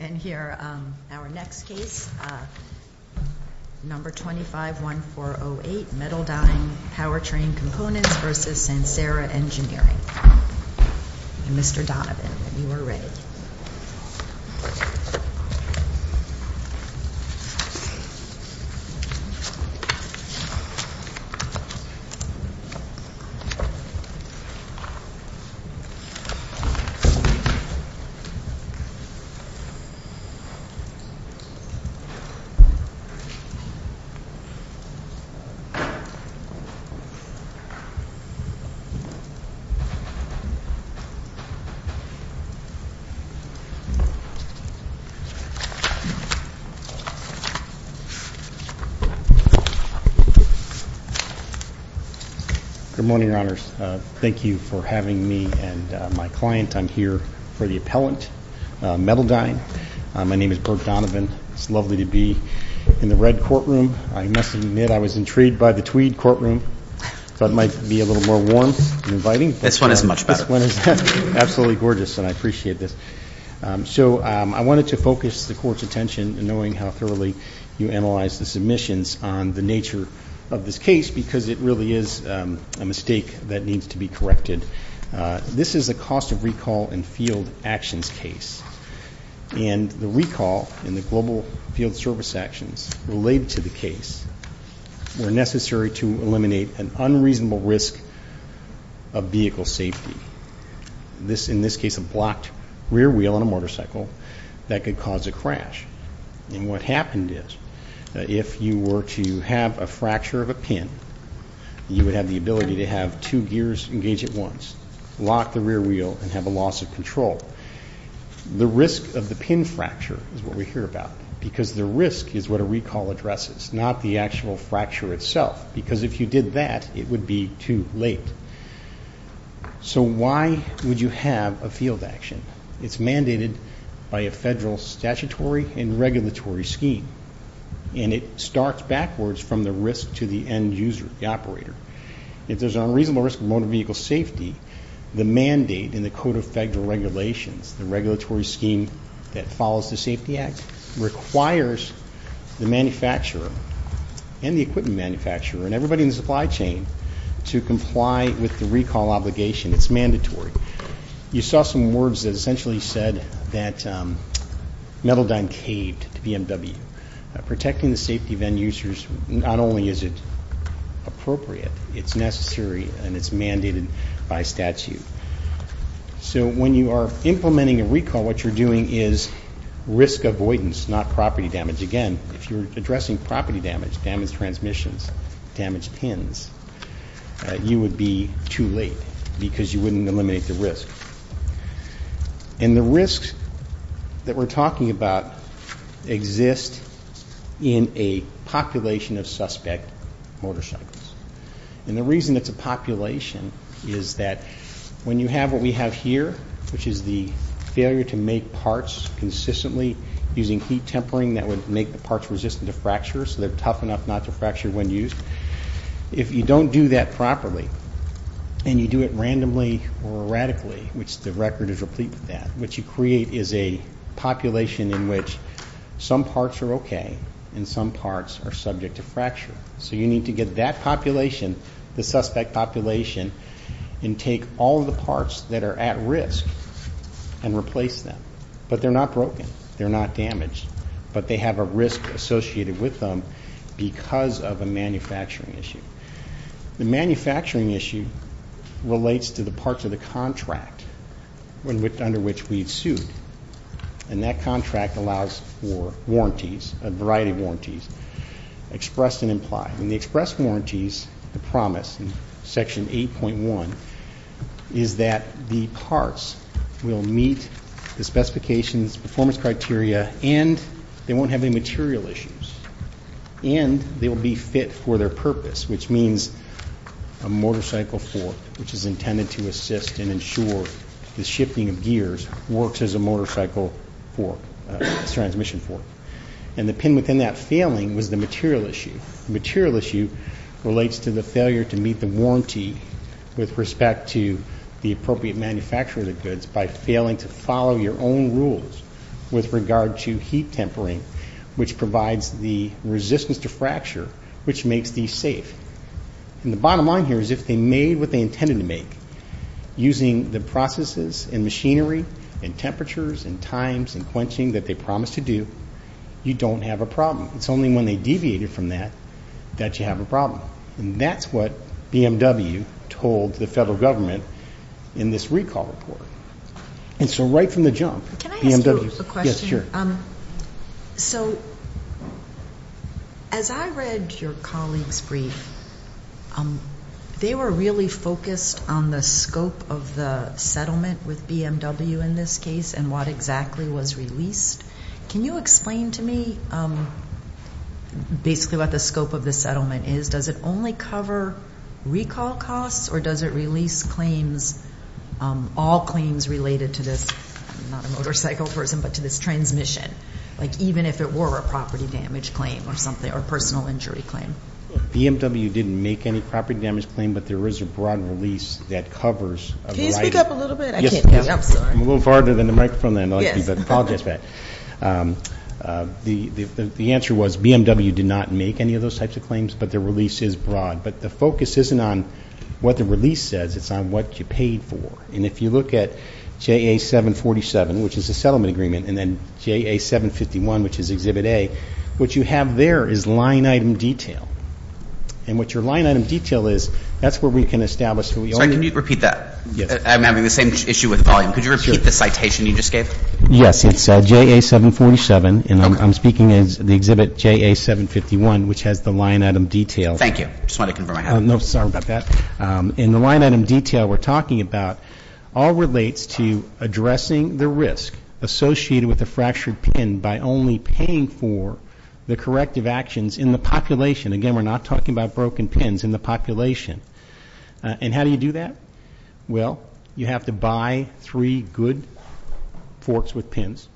And here, our next case, number 251408, Metaldyne Powertrain Components v. Sansera Engineering. Mr. Donovan, you are ready. Good morning, Your Honors. Thank you for having me and my client. I'm here for the appellant, Metaldyne. My name is Bert Donovan. It's lovely to be in the red courtroom. I must admit I was intrigued by the tweed courtroom, so it might be a little more warm and inviting. This one is much better. This one is absolutely gorgeous, and I appreciate this. So I wanted to focus the Court's attention, knowing how thoroughly you analyzed the submissions, on the nature of this case, because it really is a mistake that needs to be corrected. This is a cost of recall and field actions case. And the recall and the global field service actions related to the case were necessary to eliminate an unreasonable risk of vehicle safety. In this case, a blocked rear wheel on a motorcycle that could cause a crash. And what happened is, if you were to have a fracture of a pin, you would have the ability to have two gears engage at once, lock the rear wheel, and have a loss of control. The risk of the pin fracture is what we hear about, because the risk is what a recall addresses, not the actual fracture itself, because if you did that, it would be too late. So why would you have a field action? It's mandated by a federal statutory and regulatory scheme, and it starts backwards from the risk to the end user, the operator. If there's an unreasonable risk of motor vehicle safety, the mandate in the Code of Federal Regulations, the regulatory scheme that follows the Safety Act, requires the manufacturer and the equipment manufacturer and everybody in the supply chain to comply with the recall obligation. It's mandatory. You saw some words that essentially said that Metaldyne caved to BMW. Protecting the safety of end users, not only is it appropriate, it's necessary and it's mandated by statute. So when you are implementing a recall, what you're doing is risk avoidance, not property damage. Again, if you're addressing property damage, damaged transmissions, damaged pins, you would be too late because you wouldn't eliminate the risk. And the risks that we're talking about exist in a population of suspect motorcycles. And the reason it's a population is that when you have what we have here, which is the failure to make parts consistently using heat tempering that would make the parts resistant to fracture, so they're tough enough not to fracture when used, if you don't do that properly and you do it randomly or erratically, which the record is replete with that, what you create is a population in which some parts are okay and some parts are subject to fracture. So you need to get that population, the suspect population, and take all of the parts that are at risk and replace them. But they're not broken. They're not damaged. But they have a risk associated with them because of a manufacturing issue. The manufacturing issue relates to the parts of the contract under which we've sued. And that contract allows for warranties, a variety of warranties, expressed and implied. And the expressed warranties, the promise in Section 8.1, is that the parts will meet the specifications, performance criteria, and they won't have any material issues, and they will be fit for their purpose, which means a motorcycle fork, which is intended to assist and ensure the shifting of gears works as a motorcycle fork, a transmission fork. And the pin within that failing was the material issue. The material issue relates to the failure to meet the warranty with respect to the appropriate manufacturer of the goods by failing to follow your own rules with regard to heat tempering, which provides the resistance to fracture, which makes these safe. And the bottom line here is if they made what they intended to make using the processes and machinery and temperatures and times and quenching that they promised to do, you don't have a problem. It's only when they deviated from that that you have a problem. And that's what BMW told the federal government in this recall report. And so right from the jump, BMW. Can I ask you a question? Yes, sure. So as I read your colleagues' brief, they were really focused on the scope of the settlement with BMW in this case and what exactly was released. Can you explain to me basically what the scope of the settlement is? Does it only cover recall costs? Or does it release claims, all claims related to this, not a motorcycle person, but to this transmission, like even if it were a property damage claim or a personal injury claim? BMW didn't make any property damage claim, but there is a broad release that covers a variety. Can you speak up a little bit? I can't hear you. I'm sorry. I'm a little farther than the microphone. I apologize for that. The answer was BMW did not make any of those types of claims, but their release is broad. But the focus isn't on what the release says. It's on what you paid for. And if you look at JA 747, which is a settlement agreement, and then JA 751, which is Exhibit A, what you have there is line item detail. And what your line item detail is, that's where we can establish. Sorry, can you repeat that? I'm having the same issue with volume. Could you repeat the citation you just gave? Yes. It's JA 747, and I'm speaking as the Exhibit JA 751, which has the line item detail. Thank you. I just wanted to confirm. No, sorry about that. And the line item detail we're talking about all relates to addressing the risk associated with a fractured pin by only paying for the corrective actions in the population. Again, we're not talking about broken pins in the population. And how do you do that? Well, you have to buy three good forks with pins,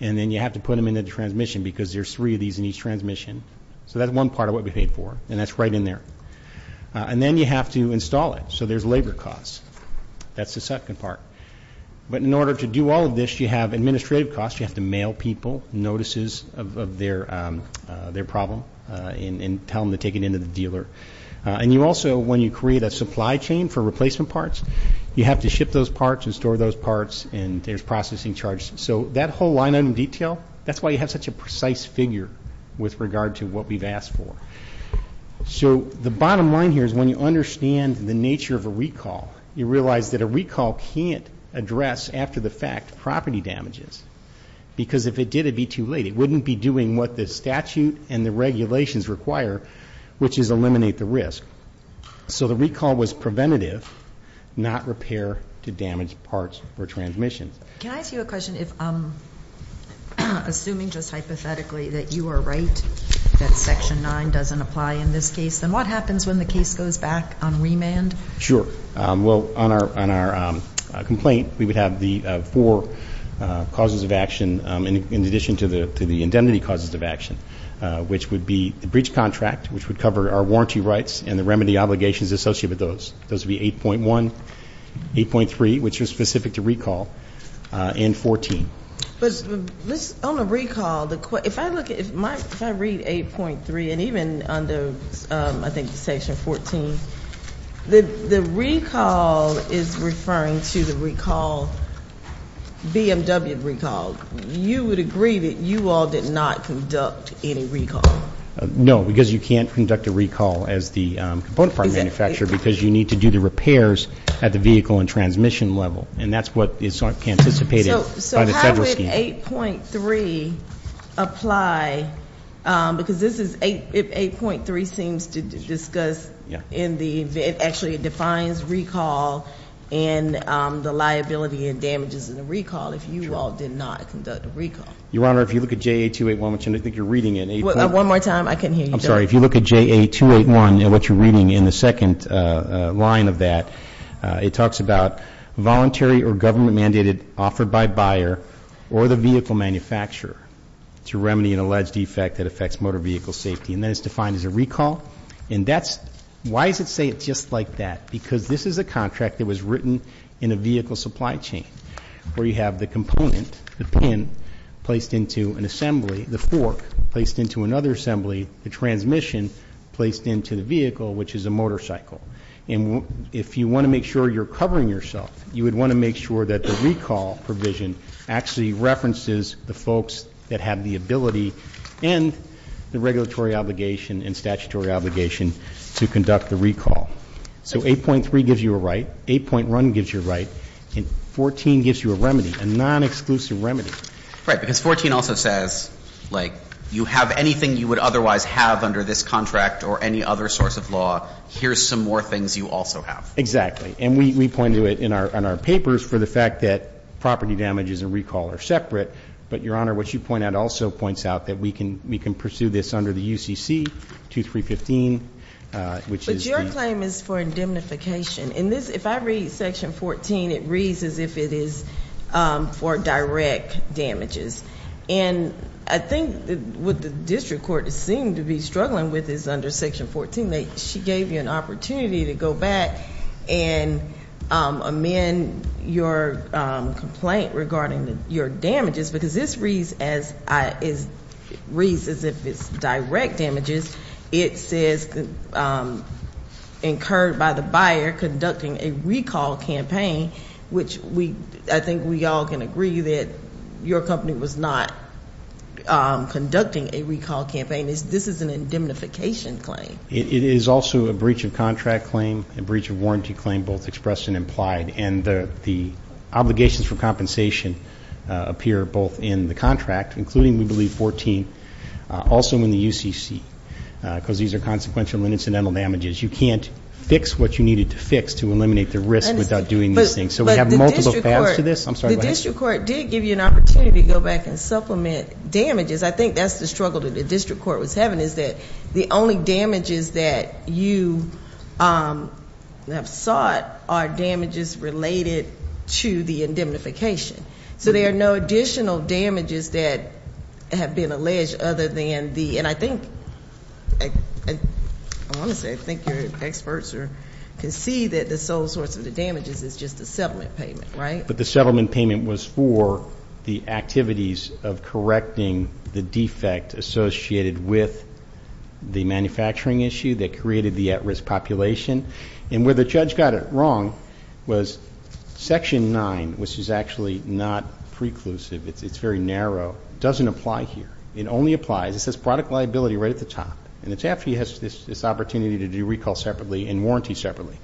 and then you have to put them in the transmission, because there's three of these in each transmission. So that's one part of what we paid for, and that's right in there. And then you have to install it, so there's labor costs. That's the second part. But in order to do all of this, you have administrative costs. You have to mail people notices of their problem and tell them to take it in to the dealer. And you also, when you create a supply chain for replacement parts, you have to ship those parts and store those parts, and there's processing charges. So that whole line item detail, that's why you have such a precise figure with regard to what we've asked for. So the bottom line here is when you understand the nature of a recall, you realize that a recall can't address after-the-fact property damages, because if it did, it'd be too late. It wouldn't be doing what the statute and the regulations require, which is eliminate the risk. So the recall was preventative, not repair to damaged parts or transmissions. Can I ask you a question? If I'm assuming just hypothetically that you are right, that Section 9 doesn't apply in this case, then what happens when the case goes back on remand? Sure. Well, on our complaint, we would have the four causes of action, in addition to the indemnity causes of action, which would be the breach contract, which would cover our warranty rights, and the remedy obligations associated with those. Those would be 8.1, 8.3, which are specific to recall, and 14. But on the recall, if I look at it, if I read 8.3, and even under, I think, Section 14, the recall is referring to the recall, BMW recall. You would agree that you all did not conduct any recall? No, because you can't conduct a recall as the component part manufacturer, because you need to do the repairs at the vehicle and transmission level. And that's what is anticipated by the federal scheme. So how would 8.3 apply? Because this is 8.3 seems to discuss in the, it actually defines recall and the liability and damages in the recall if you all did not conduct a recall. Your Honor, if you look at JA 281, which I think you're reading it. One more time. I couldn't hear you. I'm sorry. If you look at JA 281 and what you're reading in the second line of that, it talks about voluntary or government-mandated offered by buyer or the vehicle manufacturer to remedy an alleged defect that affects motor vehicle safety. And that is defined as a recall. And that's, why does it say it's just like that? Because this is a contract that was written in a vehicle supply chain where you have the component, the pin placed into an assembly, the fork placed into another assembly, the transmission placed into the vehicle, which is a motorcycle. And if you want to make sure you're covering yourself, you would want to make sure that the recall provision actually references the folks that have the ability and the regulatory obligation and statutory obligation to conduct the recall. So 8.3 gives you a right. 8.1 gives you a right. And 14 gives you a remedy, a non-exclusive remedy. Right. Because 14 also says, like, you have anything you would otherwise have under this contract or any other source of law. Here's some more things you also have. Exactly. And we point to it in our papers for the fact that property damages and recall are separate. But, Your Honor, what you point out also points out that we can pursue this under the UCC 2315, which is the But your claim is for indemnification. In this, if I read section 14, it reads as if it is for direct damages. And I think what the district court seemed to be struggling with is under section 14, she gave you an opportunity to go back and amend your complaint regarding your damages. Because this reads as if it's direct damages. It says incurred by the buyer conducting a recall campaign, which I think we all can agree that your company was not conducting a recall campaign. This is an indemnification claim. It is also a breach of contract claim, a breach of warranty claim, both expressed and implied. And the obligations for compensation appear both in the contract, including, we believe, 14, also in the UCC, because these are consequential and incidental damages. You can't fix what you needed to fix to eliminate the risk without doing these things. So we have multiple paths to this. I'm sorry, go ahead. The district court did give you an opportunity to go back and supplement damages. I think that's the struggle that the district court was having is that the only damages that you have sought are damages related to the indemnification. So there are no additional damages that have been alleged other than the, and I think, I want to say, I think your experts can see that the sole source of the damages is just the settlement payment, right? But the settlement payment was for the activities of correcting the defect associated with the manufacturing issue that created the at-risk population. And where the judge got it wrong was Section 9, which is actually not preclusive. It's very narrow. It doesn't apply here. It only applies. It says product liability right at the top. And it's after you have this opportunity to do recall separately and warranty separately.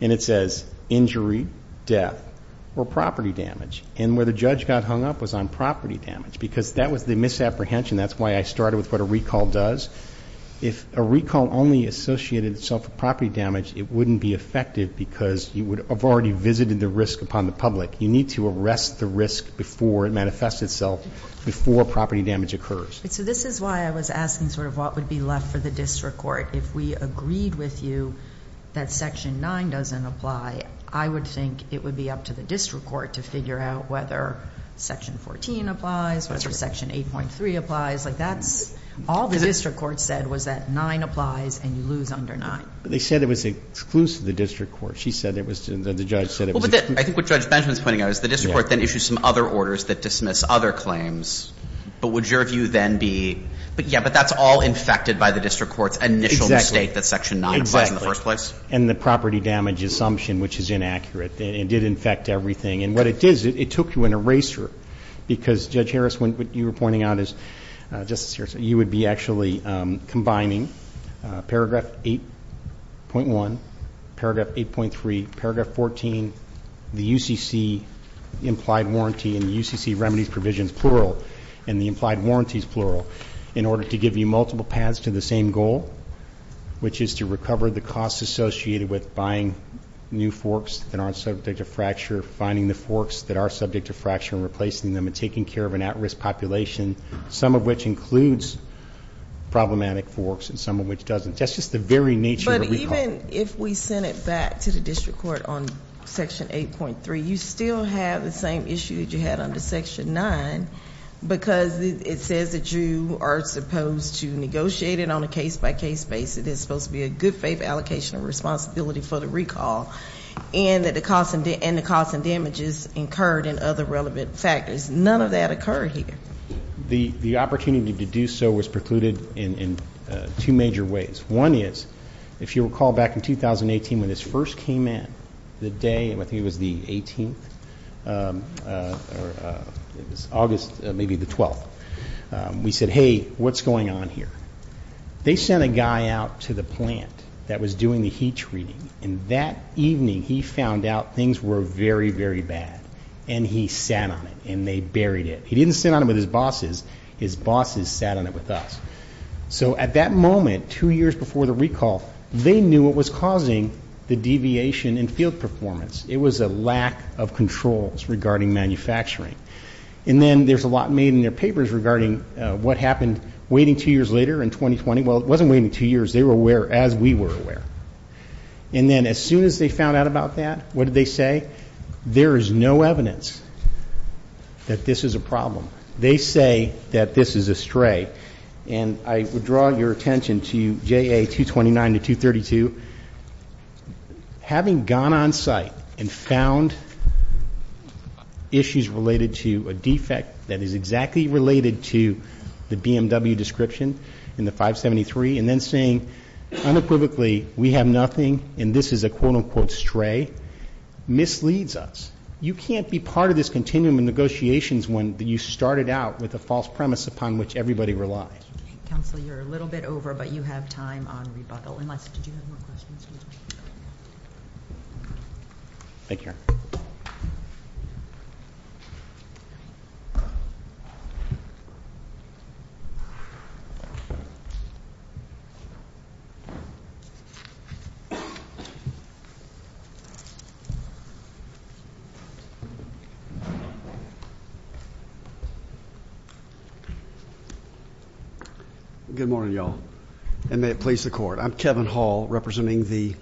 And it says injury, death, or property damage. And where the judge got hung up was on property damage. Because that was the misapprehension. That's why I started with what a recall does. If a recall only associated itself with property damage, it wouldn't be effective because you would have already visited the risk upon the public. You need to arrest the risk before it manifests itself before property damage occurs. So this is why I was asking sort of what would be left for the district court. If we agreed with you that Section 9 doesn't apply, I would think it would be up to the district court to figure out whether Section 14 applies, whether Section 8.3 applies. Like that's all the district court said was that 9 applies and you lose under 9. But they said it was exclusive to the district court. She said it was. The judge said it was. I think what Judge Benjamin is pointing out is the district court then issues some other orders that dismiss other claims. But would your view then be... All infected by the district court's initial mistake that Section 9 applies in the first place? And the property damage assumption, which is inaccurate. It did infect everything. And what it did is it took you an eraser. Because, Judge Harris, what you were pointing out is... Just to be serious. You would be actually combining Paragraph 8.1, Paragraph 8.3, Paragraph 14, the UCC implied warranty and the UCC remedies provisions plural and the implied warranties plural in order to give you multiple paths to the same goal, which is to recover the costs associated with buying new forks that aren't subject to fracture, finding the forks that are subject to fracture and replacing them and taking care of an at-risk population, some of which includes problematic forks and some of which doesn't. That's just the very nature of recall. But even if we send it back to the district court on Section 8.3, you still have the same issue that you had under Section 9 because it says that you are supposed to negotiate it on a case-by-case basis. It's supposed to be a good faith allocation of responsibility for the recall and that the costs and damages incurred and other relevant factors. None of that occurred here. The opportunity to do so was precluded in two major ways. One is, if you recall back in 2018 when this first came in, the day, I think it was the 18th, or it was August, maybe the 12th, we said, hey, what's going on here? They sent a guy out to the plant that was doing the heat treating, and that evening he found out things were very, very bad, and he sat on it and they buried it. He didn't sit on it with his bosses. His bosses sat on it with us. So at that moment, two years before the recall, they knew what was causing the deviation in field performance. It was a lack of controls regarding manufacturing. And then there's a lot made in their papers regarding what happened waiting two years later in 2020. Well, it wasn't waiting two years. They were aware as we were aware. And then as soon as they found out about that, what did they say? There is no evidence that this is a problem. They say that this is a stray. And I would draw your attention to JA 229 to 232. Having gone on site and found issues related to a defect that is exactly related to the BMW description in the 573 and then saying unequivocally we have nothing and this is a quote, unquote stray, misleads us. You can't be part of this continuum of negotiations when you started out with a false premise upon which everybody relies. Thank you. Counsel, you're a little bit over, but you have time on rebuttal. Unless, did you have more questions? Thank you. Good morning, y'all. And may it please the Court. I'm Kevin Hall, representing the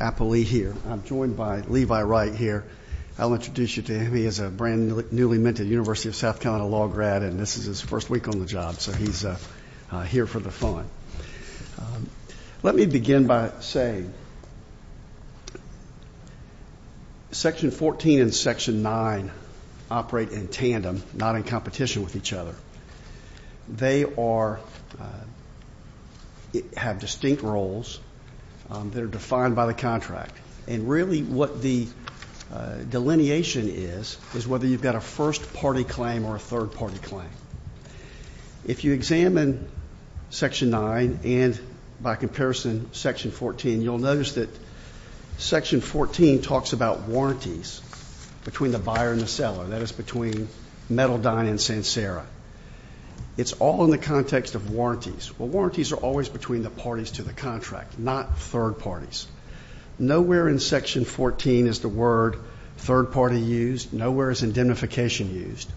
appellee here. I'm joined by Levi Wright here. I'll introduce you to him. He is a brand-newly minted University of South Carolina law grad, and this is his first week on the job. So he's here for the fun. Let me begin by saying Section 14 and Section 9 operate in tandem, not in competition with each other. They are, have distinct roles that are defined by the contract, and really what the delineation is is whether you've got a first-party claim or a third-party claim. If you examine Section 9 and, by comparison, Section 14, you'll notice that Section 14 talks about warranties between the buyer and the seller, that is between Metaldine and Sancerra. It's all in the context of warranties. Well, warranties are always between the parties to the contract, not third parties. Nowhere in Section 14 is the word third-party used. Nowhere is indemnification used.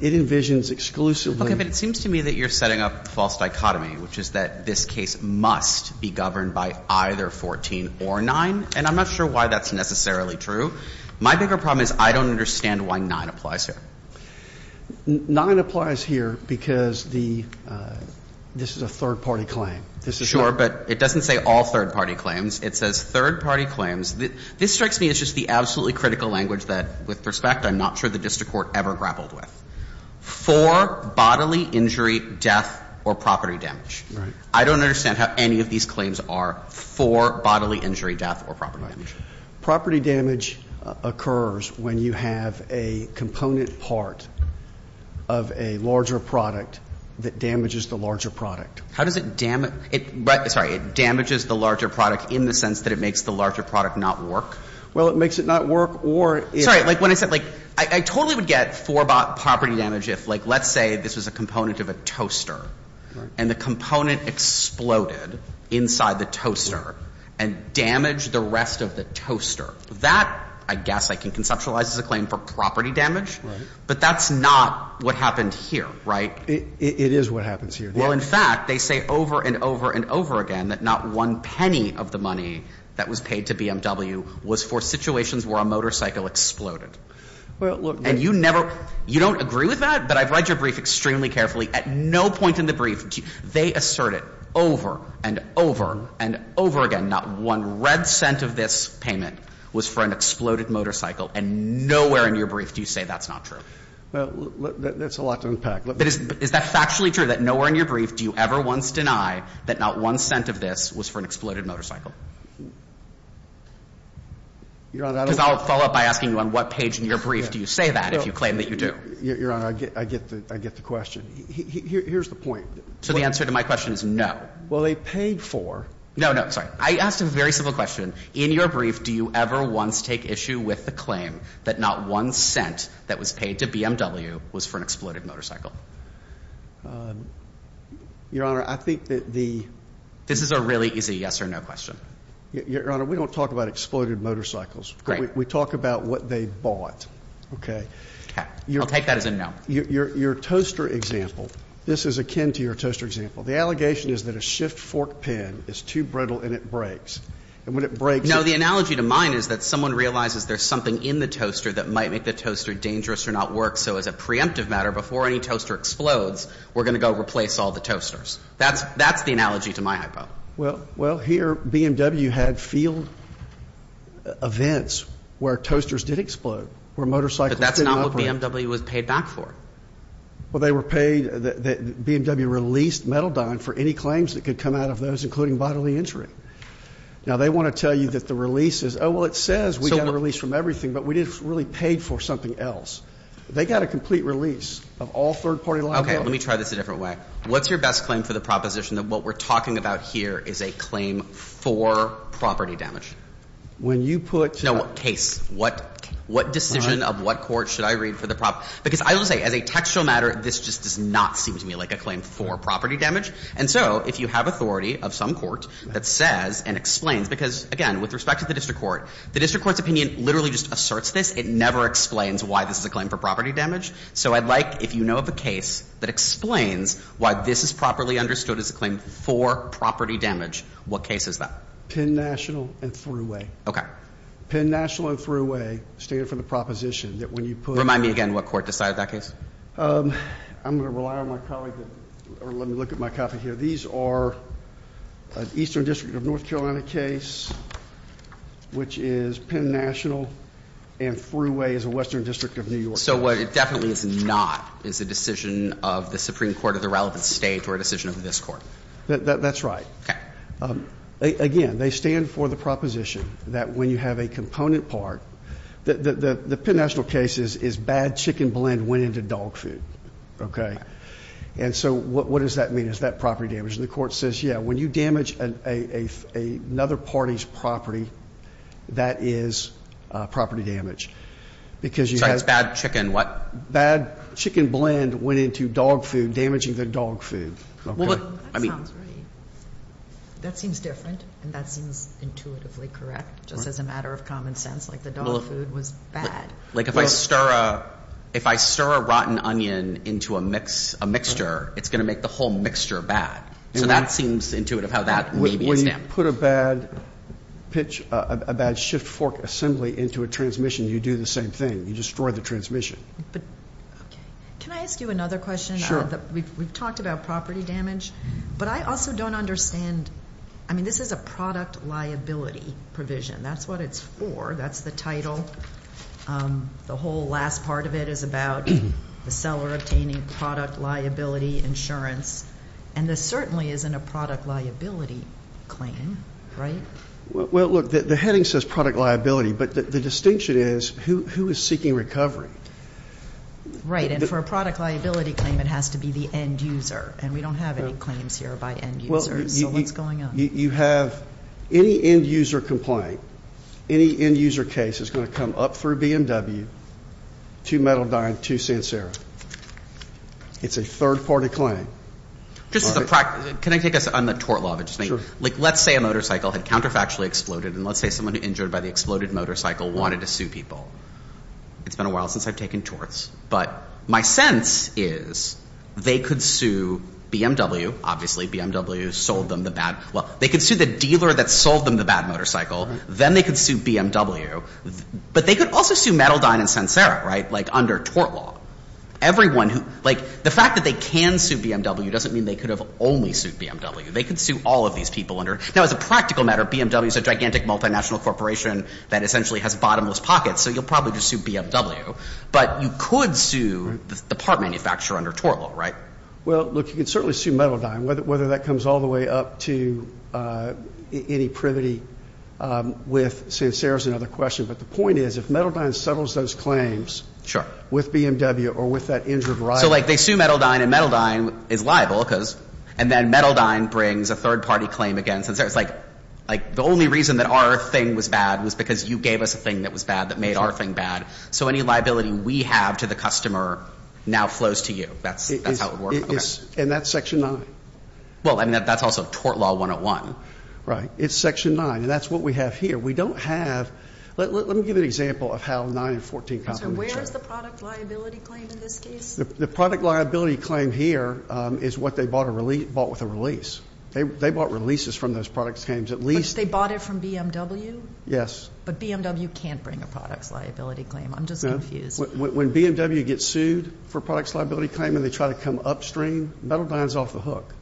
It envisions exclusively. Okay, but it seems to me that you're setting up a false dichotomy, which is that this case must be governed by either 14 or 9, and I'm not sure why that's necessarily true. My bigger problem is I don't understand why 9 applies here. 9 applies here because the, this is a third-party claim. Sure, but it doesn't say all third-party claims. It says third-party claims. This strikes me as just the absolutely critical language that, with respect, I'm not sure the district court ever grappled with. For bodily injury, death, or property damage. Right. I don't understand how any of these claims are for bodily injury, death, or property damage. Property damage occurs when you have a component part of a larger product that damages the larger product. How does it damage? Sorry, it damages the larger product in the sense that it makes the larger product not work? Well, it makes it not work or it is. Sorry, like when I said, like, I totally would get four property damage if, like, let's say this was a component of a toaster. Right. And the component exploded inside the toaster and damaged the rest of the toaster. That, I guess, I can conceptualize as a claim for property damage. Right. But that's not what happened here, right? It is what happens here. Well, in fact, they say over and over and over again that not one penny of the money that was paid to BMW was for situations where a motorcycle exploded. Well, look. And you never, you don't agree with that? But I've read your brief extremely carefully. At no point in the brief, they assert it over and over and over again, not one red cent of this payment was for an exploded motorcycle. And nowhere in your brief do you say that's not true. Well, that's a lot to unpack. But is that factually true, that nowhere in your brief do you ever once deny that not one cent of this was for an exploded motorcycle? Your Honor, I don't. Because I'll follow up by asking you on what page in your brief do you say that if you claim that you do? Your Honor, I get the question. Here's the point. So the answer to my question is no. Well, they paid for. No, no. Sorry. I asked a very simple question. In your brief, do you ever once take issue with the claim that not one cent that was paid to BMW was for an exploded motorcycle? Your Honor, I think that the... This is a really easy yes or no question. Your Honor, we don't talk about exploded motorcycles. Great. We talk about what they bought. Okay. I'll take that as a no. Your toaster example, this is akin to your toaster example. The allegation is that a shift fork pin is too brittle and it breaks. And when it breaks... No, the analogy to mine is that someone realizes there's something in the toaster that might make the toaster dangerous or not work. So as a preemptive matter, before any toaster explodes, we're going to go replace all the toasters. That's the analogy to my hypo. Well, here BMW had field events where toasters did explode, where motorcycles did explode. But that's not what BMW was paid back for. Well, they were paid... BMW released Metal Don for any claims that could come out of those, including bodily injury. Now, they want to tell you that the release is... Oh, well, it says we got a release from everything, but we didn't really pay for something else. They got a complete release of all third-party liability. Okay. Let me try this a different way. What's your best claim for the proposition that what we're talking about here is a claim for property damage? When you put... No, case. What decision of what court should I read for the... Because I will say, as a textual matter, this just does not seem to me like a claim for property damage. And so if you have authority of some court that says and explains... Because, again, with respect to the district court, the district court's opinion literally just asserts this. It never explains why this is a claim for property damage. So I'd like if you know of a case that explains why this is properly understood as a claim for property damage. What case is that? Penn National and Thruway. Okay. Penn National and Thruway stand for the proposition that when you put... Remind me again what court decided that case. I'm going to rely on my colleague. Let me look at my copy here. These are an Eastern District of North Carolina case, which is Penn National and Thruway is a Western District of New York. So what it definitely is not is a decision of the Supreme Court of the relevant state or a decision of this court. That's right. Okay. Again, they stand for the proposition that when you have a component part... The Penn National case is bad chicken blend went into dog food. Okay. And so what does that mean? Is that property damage? And the court says, yeah, when you damage another party's property, that is property damage. So it's bad chicken what? Bad chicken blend went into dog food, damaging the dog food. Okay. That sounds right. That seems different, and that seems intuitively correct, just as a matter of common sense, like the dog food was bad. Like if I stir a rotten onion into a mixture, it's going to make the whole mixture bad. So that seems intuitive how that may be a stamp. When you put a bad pitch, a bad shift fork assembly into a transmission, you do the same thing. You destroy the transmission. Okay. Can I ask you another question? Sure. We've talked about property damage, but I also don't understand... I mean, this is a product liability provision. That's what it's for. That's the title. The whole last part of it is about the seller obtaining product liability insurance, and this certainly isn't a product liability claim, right? Well, look, the heading says product liability, but the distinction is who is seeking recovery. Right. And for a product liability claim, it has to be the end user, and we don't have any claims here by end users. So what's going on? You have any end user complaint, any end user case is going to come up through BMW to Metal Dine to Sancero. It's a third-party claim. Just as a practice, can I take this on the tort law? Sure. Like let's say a motorcycle had counterfactually exploded, and let's say someone injured by the exploded motorcycle wanted to sue people. It's been a while since I've taken torts, but my sense is they could sue BMW. Obviously, BMW sold them the bad—well, they could sue the dealer that sold them the bad motorcycle. Then they could sue BMW. But they could also sue Metal Dine and Sancero, right, like under tort law. Everyone who—like the fact that they can sue BMW doesn't mean they could have only sued BMW. They could sue all of these people under— Now, as a practical matter, BMW is a gigantic multinational corporation that essentially has bottomless pockets, so you'll probably just sue BMW. But you could sue the part manufacturer under tort law, right? Well, look, you could certainly sue Metal Dine, whether that comes all the way up to any privity with Sancero is another question. But the point is if Metal Dine settles those claims with BMW or with that injured rider— And then Metal Dine brings a third-party claim against it. It's like the only reason that our thing was bad was because you gave us a thing that was bad that made our thing bad. So any liability we have to the customer now flows to you. That's how it would work. And that's Section 9. Well, I mean, that's also tort law 101. Right. It's Section 9, and that's what we have here. We don't have—let me give you an example of how 9 and 14 complement each other. So where is the product liability claim in this case? The product liability claim here is what they bought with a release. They bought releases from those product claims. But they bought it from BMW? Yes. But BMW can't bring a product liability claim. I'm just confused. When BMW gets sued for a product liability claim and they try to come upstream, Metal Dine is off the hook.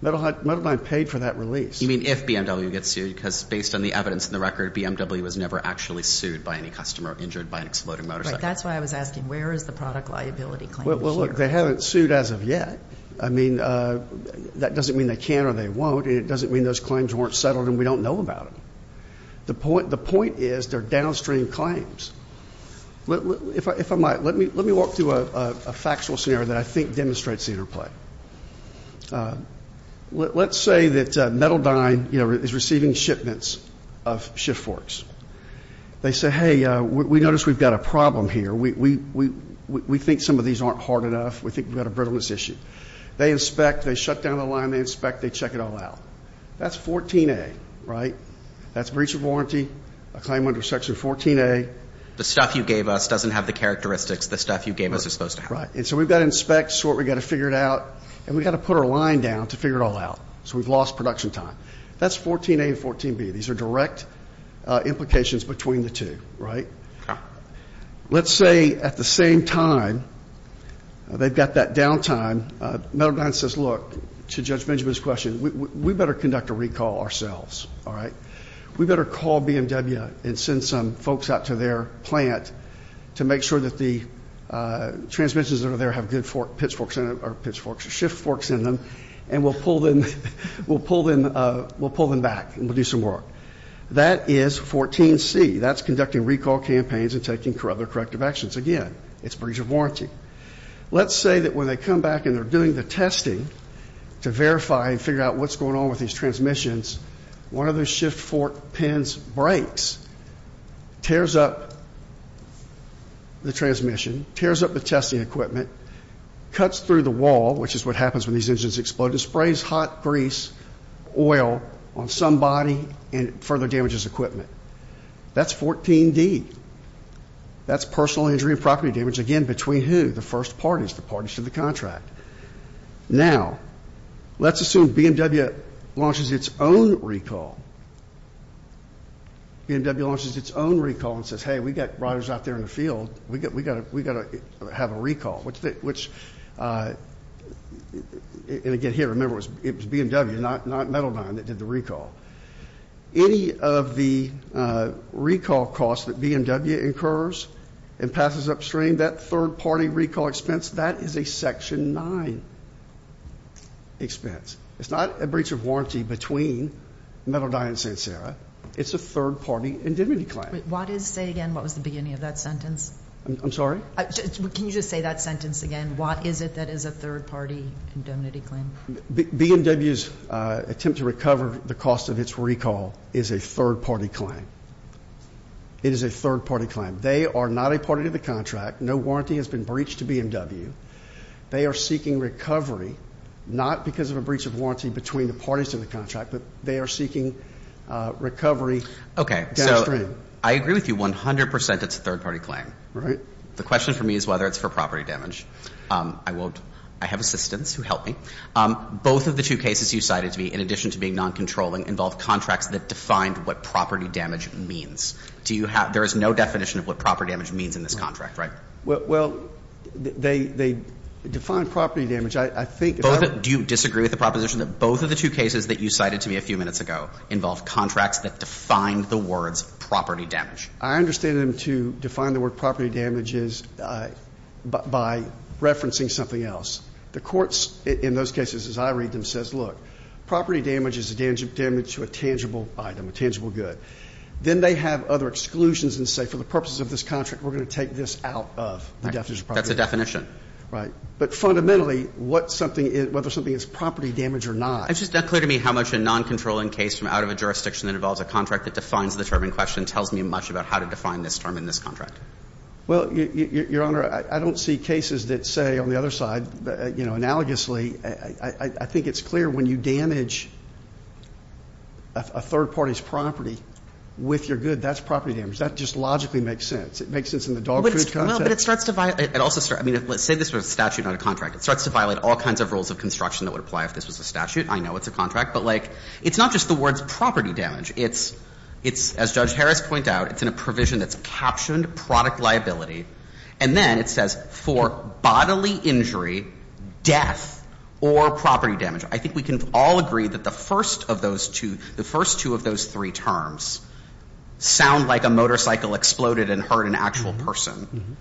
Metal Dine paid for that release. You mean if BMW gets sued? Because based on the evidence in the record, BMW was never actually sued by any customer injured by an exploding motorcycle. But that's why I was asking, where is the product liability claim here? Well, look, they haven't sued as of yet. I mean, that doesn't mean they can or they won't, and it doesn't mean those claims weren't settled and we don't know about them. The point is they're downstream claims. If I might, let me walk through a factual scenario that I think demonstrates the interplay. Let's say that Metal Dine is receiving shipments of shift forks. They say, hey, we notice we've got a problem here. We think some of these aren't hard enough. We think we've got a brittleness issue. They inspect. They shut down the line. They inspect. They check it all out. That's 14A, right? That's breach of warranty, a claim under Section 14A. The stuff you gave us doesn't have the characteristics the stuff you gave us is supposed to have. Right. And so we've got to inspect, sort, we've got to figure it out, and we've got to put our line down to figure it all out. So we've lost production time. That's 14A and 14B. These are direct implications between the two, right? Let's say at the same time they've got that downtime, Metal Dine says, look, to Judge Benjamin's question, we better conduct a recall ourselves, all right? We better call BMW and send some folks out to their plant to make sure that the transmissions that are there have good pitch forks or shift forks in them, and we'll pull them back and we'll do some work. That is 14C. That's conducting recall campaigns and taking other corrective actions. Again, it's breach of warranty. Let's say that when they come back and they're doing the testing to verify and figure out what's going on with these transmissions, one of those shift fork pins breaks, tears up the transmission, tears up the testing equipment, cuts through the wall, which is what happens when these engines explode, and sprays hot grease oil on some body and further damages equipment. That's 14D. That's personal injury and property damage, again, between who? The first parties, the parties to the contract. Now, let's assume BMW launches its own recall. BMW launches its own recall and says, hey, we've got riders out there in the field. We've got to have a recall, which, and again, here, remember, it was BMW, not Metaldine that did the recall. Any of the recall costs that BMW incurs and passes upstream, that third-party recall expense, that is a Section 9 expense. It's not a breach of warranty between Metaldine and Sinsera. It's a third-party indemnity claim. What is, say again, what was the beginning of that sentence? I'm sorry? Can you just say that sentence again? What is it that is a third-party indemnity claim? BMW's attempt to recover the cost of its recall is a third-party claim. It is a third-party claim. They are not a party to the contract. No warranty has been breached to BMW. They are seeking recovery, not because of a breach of warranty between the parties to the contract, but they are seeking recovery downstream. Okay, so I agree with you 100 percent it's a third-party claim. Right. The question for me is whether it's for property damage. I won't. I have assistants who help me. Both of the two cases you cited to me, in addition to being non-controlling, involve contracts that defined what property damage means. Do you have – there is no definition of what property damage means in this contract, right? Well, they define property damage. I think if I were to – Do you disagree with the proposition that both of the two cases that you cited to me a few minutes ago involve contracts that defined the words property damage? I understand them to define the word property damage is by referencing something else. The courts in those cases, as I read them, says, look, property damage is a damage to a tangible item, a tangible good. Then they have other exclusions and say, for the purposes of this contract, we're going to take this out of the definition of property damage. That's a definition. Right. But fundamentally, what something – whether something is property damage or not. It's just not clear to me how much a non-controlling case from out of a jurisdiction that involves a contract that defines the term in question tells me much about how to define this term in this contract. Well, Your Honor, I don't see cases that say on the other side, you know, analogously I think it's clear when you damage a third party's property with your good, that's property damage. That just logically makes sense. It makes sense in the dog food concept. Well, but it starts to – it also – I mean, let's say this was a statute, not a contract. It starts to violate all kinds of rules of construction that would apply if this was a statute. I know it's a contract. But, like, it's not just the words property damage. It's – it's, as Judge Harris pointed out, it's in a provision that's captioned product liability. And then it says for bodily injury, death, or property damage. I think we can all agree that the first of those two – the first two of those three terms sound like a motorcycle exploded and hurt an actual person.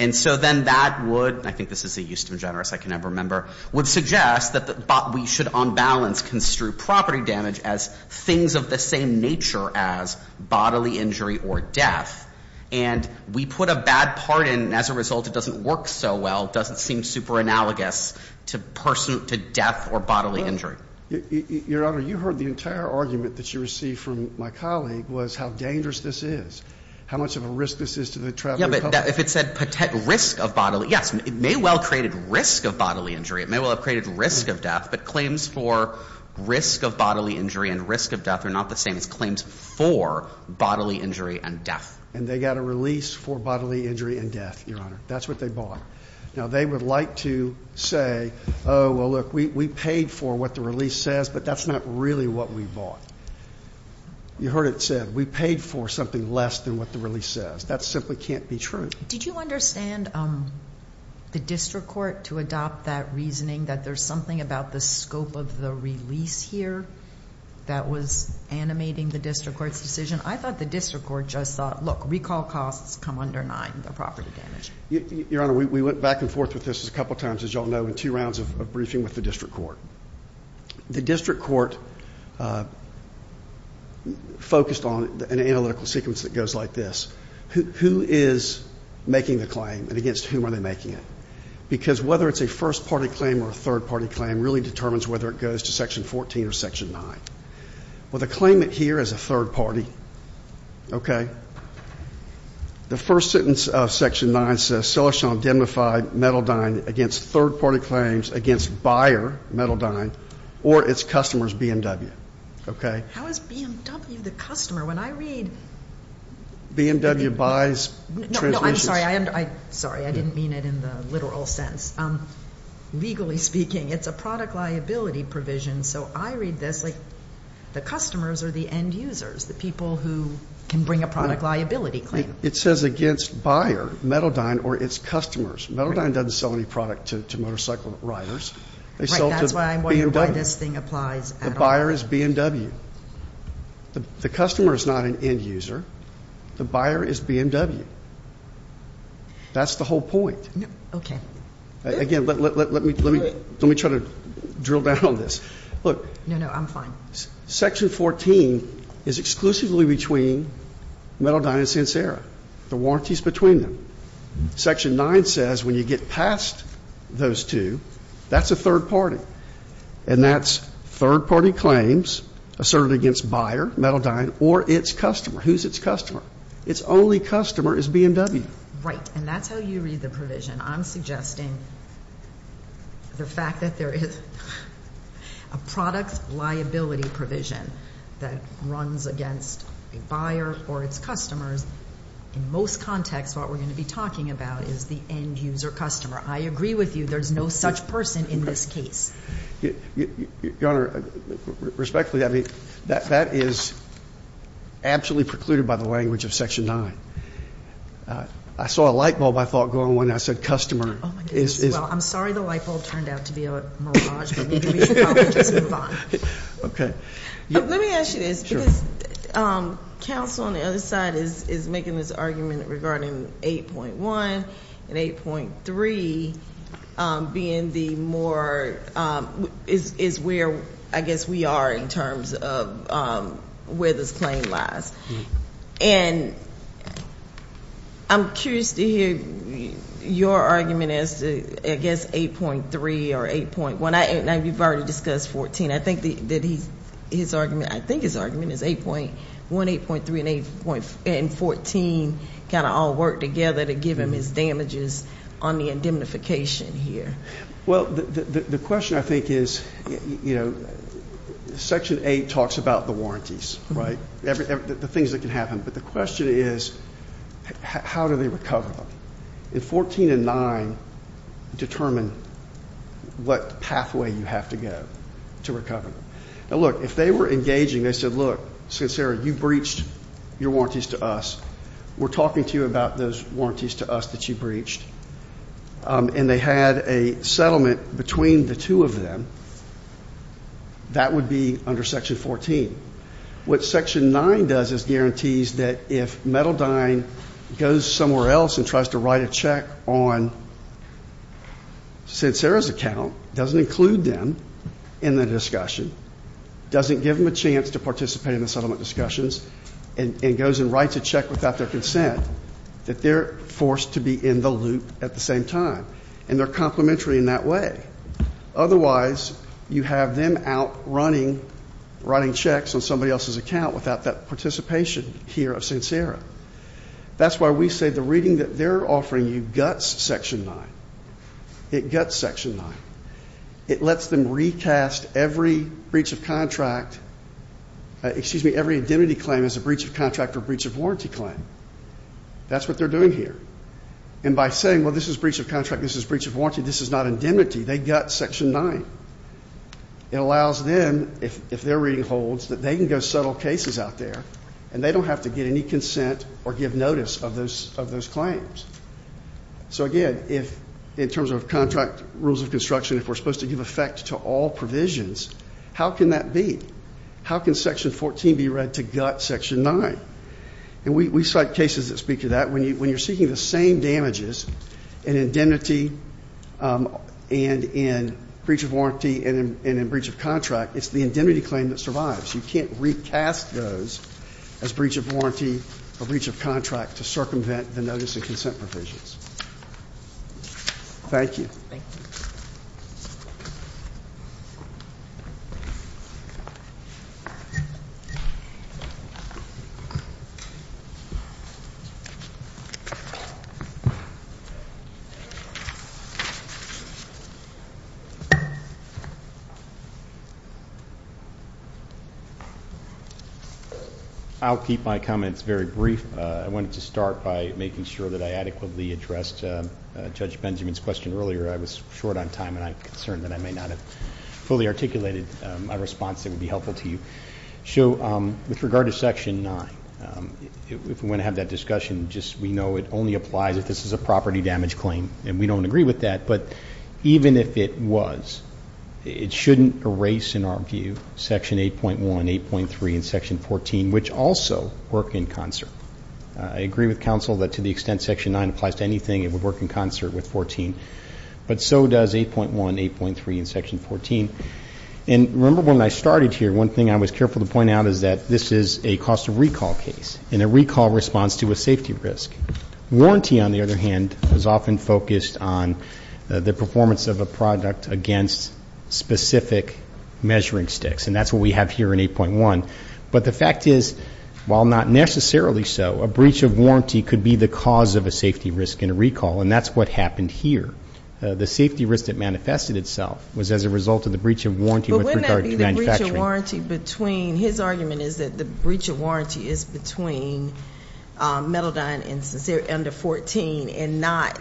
And so then that would – I think this is a Euston Generous I can never remember – would suggest that we should on balance construe property damage as things of the same nature as bodily injury or death. And we put a bad part in, and as a result it doesn't work so well, doesn't seem super analogous to person – to death or bodily injury. Your Honor, you heard the entire argument that you received from my colleague was how dangerous this is, how much of a risk this is to the traveling public. Yeah, but if it said risk of bodily – yes, it may well have created risk of bodily injury. It may well have created risk of death. But claims for risk of bodily injury and risk of death are not the same as claims for bodily injury and death. And they got a release for bodily injury and death, Your Honor. That's what they bought. Now, they would like to say, oh, well, look, we paid for what the release says, but that's not really what we bought. You heard it said. We paid for something less than what the release says. That simply can't be true. Did you understand the district court to adopt that reasoning that there's something about the scope of the release here that was animating the district court's decision? I thought the district court just thought, look, recall costs come under nine, the property damage. Your Honor, we went back and forth with this a couple times, as you all know, in two rounds of briefing with the district court. The district court focused on an analytical sequence that goes like this. Who is making the claim and against whom are they making it? Because whether it's a first-party claim or a third-party claim really determines whether it goes to Section 14 or Section 9. Well, the claimant here is a third-party. Okay? The first sentence of Section 9 says, Celestron indemnified Mettledine against third-party claims against buyer Mettledine or its customers BMW. Okay? How is BMW the customer? When I read BMW buys. No, I'm sorry. I'm sorry. I didn't mean it in the literal sense. Legally speaking, it's a product liability provision. So I read this like the customers are the end users, the people who can bring a product liability claim. It says against buyer Mettledine or its customers. Mettledine doesn't sell any product to motorcycle riders. That's why I'm wondering why this thing applies at all. The buyer is BMW. The customer is not an end user. The buyer is BMW. That's the whole point. Okay. Again, let me try to drill down on this. Look. No, no, I'm fine. Section 14 is exclusively between Mettledine and Sinsera. The warranty is between them. Section 9 says when you get past those two, that's a third party. And that's third-party claims asserted against buyer Mettledine or its customer. Who's its customer? Its only customer is BMW. Right. And that's how you read the provision. I'm suggesting the fact that there is a product liability provision that runs against a buyer or its customers. In most contexts, what we're going to be talking about is the end user customer. I agree with you. There's no such person in this case. Your Honor, respectfully, that is absolutely precluded by the language of Section 9. I saw a light bulb, I thought, going on when I said customer. Oh, my goodness. Well, I'm sorry the light bulb turned out to be a mirage, but maybe we should probably just move on. Okay. Let me ask you this, because counsel on the other side is making this argument regarding 8.1 and 8.3 being the more, is where I guess we are in terms of where this claim lies. And I'm curious to hear your argument as to, I guess, 8.3 or 8.1. You've already discussed 14. I think his argument is 8.1, 8.3, and 14 kind of all work together to give him his damages on the indemnification here. Well, the question, I think, is, you know, Section 8 talks about the warranties, right? The things that can happen. But the question is, how do they recover them? And 14 and 9 determine what pathway you have to go to recover them. Now, look, if they were engaging, they said, look, since you breached your warranties to us, we're talking to you about those warranties to us that you breached, and they had a settlement between the two of them, that would be under Section 14. What Section 9 does is guarantees that if Mettledine goes somewhere else and tries to write a check on Sincera's account, doesn't include them in the discussion, doesn't give them a chance to participate in the settlement discussions, and goes and writes a check without their consent, that they're forced to be in the loop at the same time. And they're complementary in that way. Otherwise, you have them out running, writing checks on somebody else's account without that participation here of Sincera. That's why we say the reading that they're offering you guts Section 9. It guts Section 9. It lets them recast every breach of contract, excuse me, every indemnity claim as a breach of contract or breach of warranty claim. That's what they're doing here. And by saying, well, this is breach of contract, this is breach of warranty, this is not indemnity, they gut Section 9. It allows them, if they're reading holds, that they can go settle cases out there, and they don't have to get any consent or give notice of those claims. So, again, in terms of contract rules of construction, if we're supposed to give effect to all provisions, how can that be? How can Section 14 be read to gut Section 9? And we cite cases that speak to that. When you're seeking the same damages in indemnity and in breach of warranty and in breach of contract, it's the indemnity claim that survives. You can't recast those as breach of warranty or breach of contract to circumvent the notice and consent provisions. Thank you. Thank you. I'll keep my comments very brief. I wanted to start by making sure that I adequately addressed Judge Benjamin's question earlier. I was short on time, and I'm concerned that I may not have fully articulated my response. It would be helpful to you. So with regard to Section 9, if we want to have that discussion, just we know it only applies if this is a property damage claim, and we don't agree with that. But even if it was, it shouldn't erase, in our view, Section 8.1, 8.3, and Section 14, which also work in concert. I agree with counsel that to the extent Section 9 applies to anything, it would work in concert with 14. But so does 8.1, 8.3, and Section 14. And remember when I started here, one thing I was careful to point out is that this is a cost of recall case and a recall response to a safety risk. Warranty, on the other hand, is often focused on the performance of a product against specific measuring sticks, and that's what we have here in 8.1. But the fact is, while not necessarily so, a breach of warranty could be the cause of a safety risk in a recall, and that's what happened here. The safety risk that manifested itself was as a result of the breach of warranty with regard to manufacturing. His argument is that the breach of warranty is between Metaldine and Sincere under 14 and not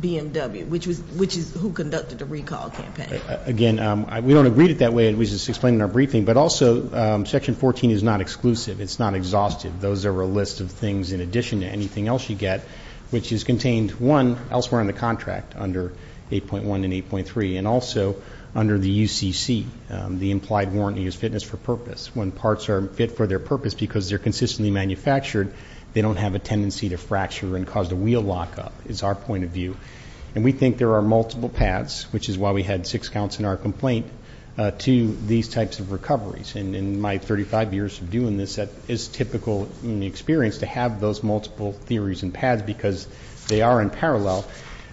BMW, which is who conducted the recall campaign. Again, we don't agree with it that way. It was just explained in our briefing. But also, Section 14 is not exclusive. It's not exhaustive. Those are a list of things in addition to anything else you get, which is contained, one, under 8.1 and 8.3, and also under the UCC, the implied warranty is fitness for purpose. When parts are fit for their purpose because they're consistently manufactured, they don't have a tendency to fracture and cause the wheel lockup is our point of view. And we think there are multiple paths, which is why we had six counts in our complaint, to these types of recoveries. In my 35 years of doing this, it's typical in the experience to have those multiple theories and paths because they are in parallel.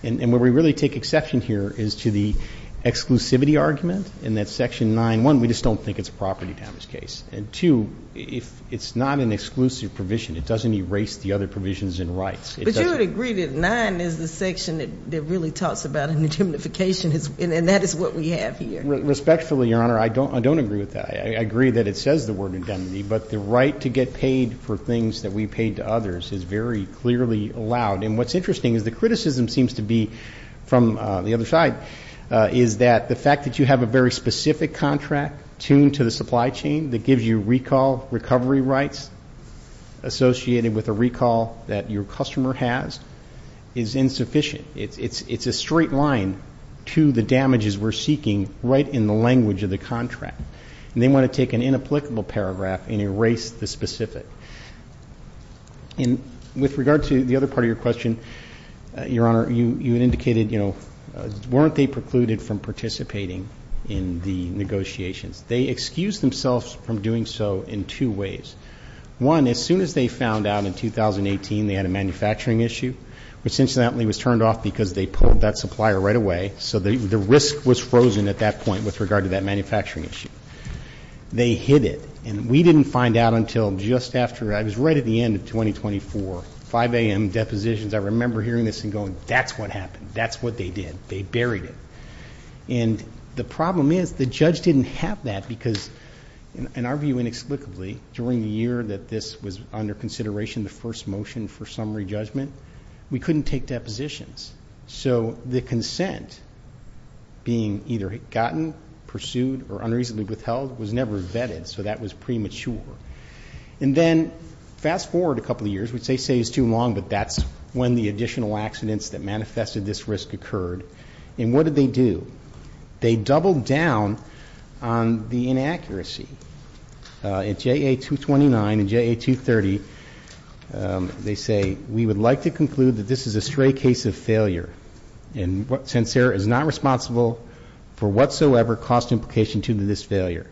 And where we really take exception here is to the exclusivity argument in that Section 9.1, we just don't think it's a property damage case. And, two, it's not an exclusive provision. It doesn't erase the other provisions and rights. But you would agree that 9 is the section that really talks about indemnification, and that is what we have here. Respectfully, Your Honor, I don't agree with that. I agree that it says the word indemnity, but the right to get paid for things that we paid to others is very clearly allowed. And what's interesting is the criticism seems to be from the other side, is that the fact that you have a very specific contract tuned to the supply chain that gives you recall recovery rights associated with a recall that your customer has is insufficient. It's a straight line to the damages we're seeking right in the language of the contract. And they want to take an inapplicable paragraph and erase the specific. And with regard to the other part of your question, Your Honor, you indicated, you know, weren't they precluded from participating in the negotiations? They excused themselves from doing so in two ways. One, as soon as they found out in 2018 they had a manufacturing issue, which incidentally was turned off because they pulled that supplier right away, so the risk was frozen at that point with regard to that manufacturing issue. They hid it. And we didn't find out until just after, I was right at the end of 2024, 5 a.m. depositions. I remember hearing this and going, that's what happened. That's what they did. They buried it. And the problem is the judge didn't have that because, in our view inexplicably, during the year that this was under consideration, the first motion for summary judgment, we couldn't take depositions. So the consent being either gotten, pursued, or unreasonably withheld was never vetted. So that was premature. And then fast forward a couple of years, which they say is too long, but that's when the additional accidents that manifested this risk occurred. And what did they do? They doubled down on the inaccuracy. At JA-229 and JA-230, they say, we would like to conclude that this is a stray case of failure and since Sarah is not responsible for whatsoever cost implication due to this failure.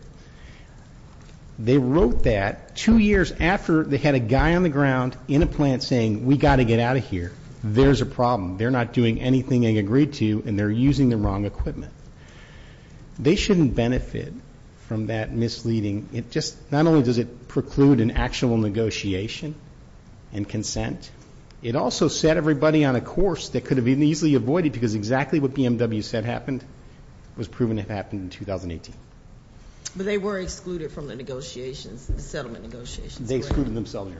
They wrote that two years after they had a guy on the ground in a plant saying, we've got to get out of here. There's a problem. They're not doing anything they agreed to and they're using the wrong equipment. They shouldn't benefit from that misleading. Not only does it preclude an actual negotiation and consent, it also set everybody on a course that could have been easily avoided because exactly what BMW said happened, was proven to have happened in 2018. But they were excluded from the negotiations, the settlement negotiations. They excluded themselves.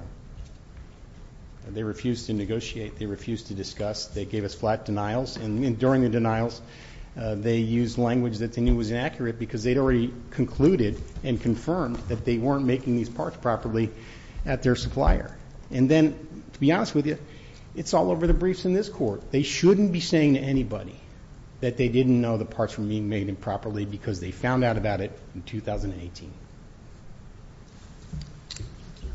They refused to negotiate. They refused to discuss. They gave us flat denials. And during the denials, they used language that they knew was inaccurate because they'd already concluded and confirmed that they weren't making these parts properly at their supplier. And then, to be honest with you, it's all over the briefs in this court. They shouldn't be saying to anybody that they didn't know the parts were being made improperly because they found out about it in 2018. Thank you.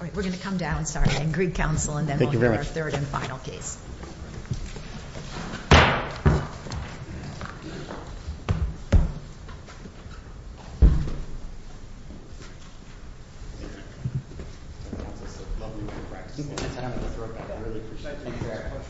All right. We're going to come down. I agree, counsel. And then we'll hear our third and final case. Thank you very much. Thank you.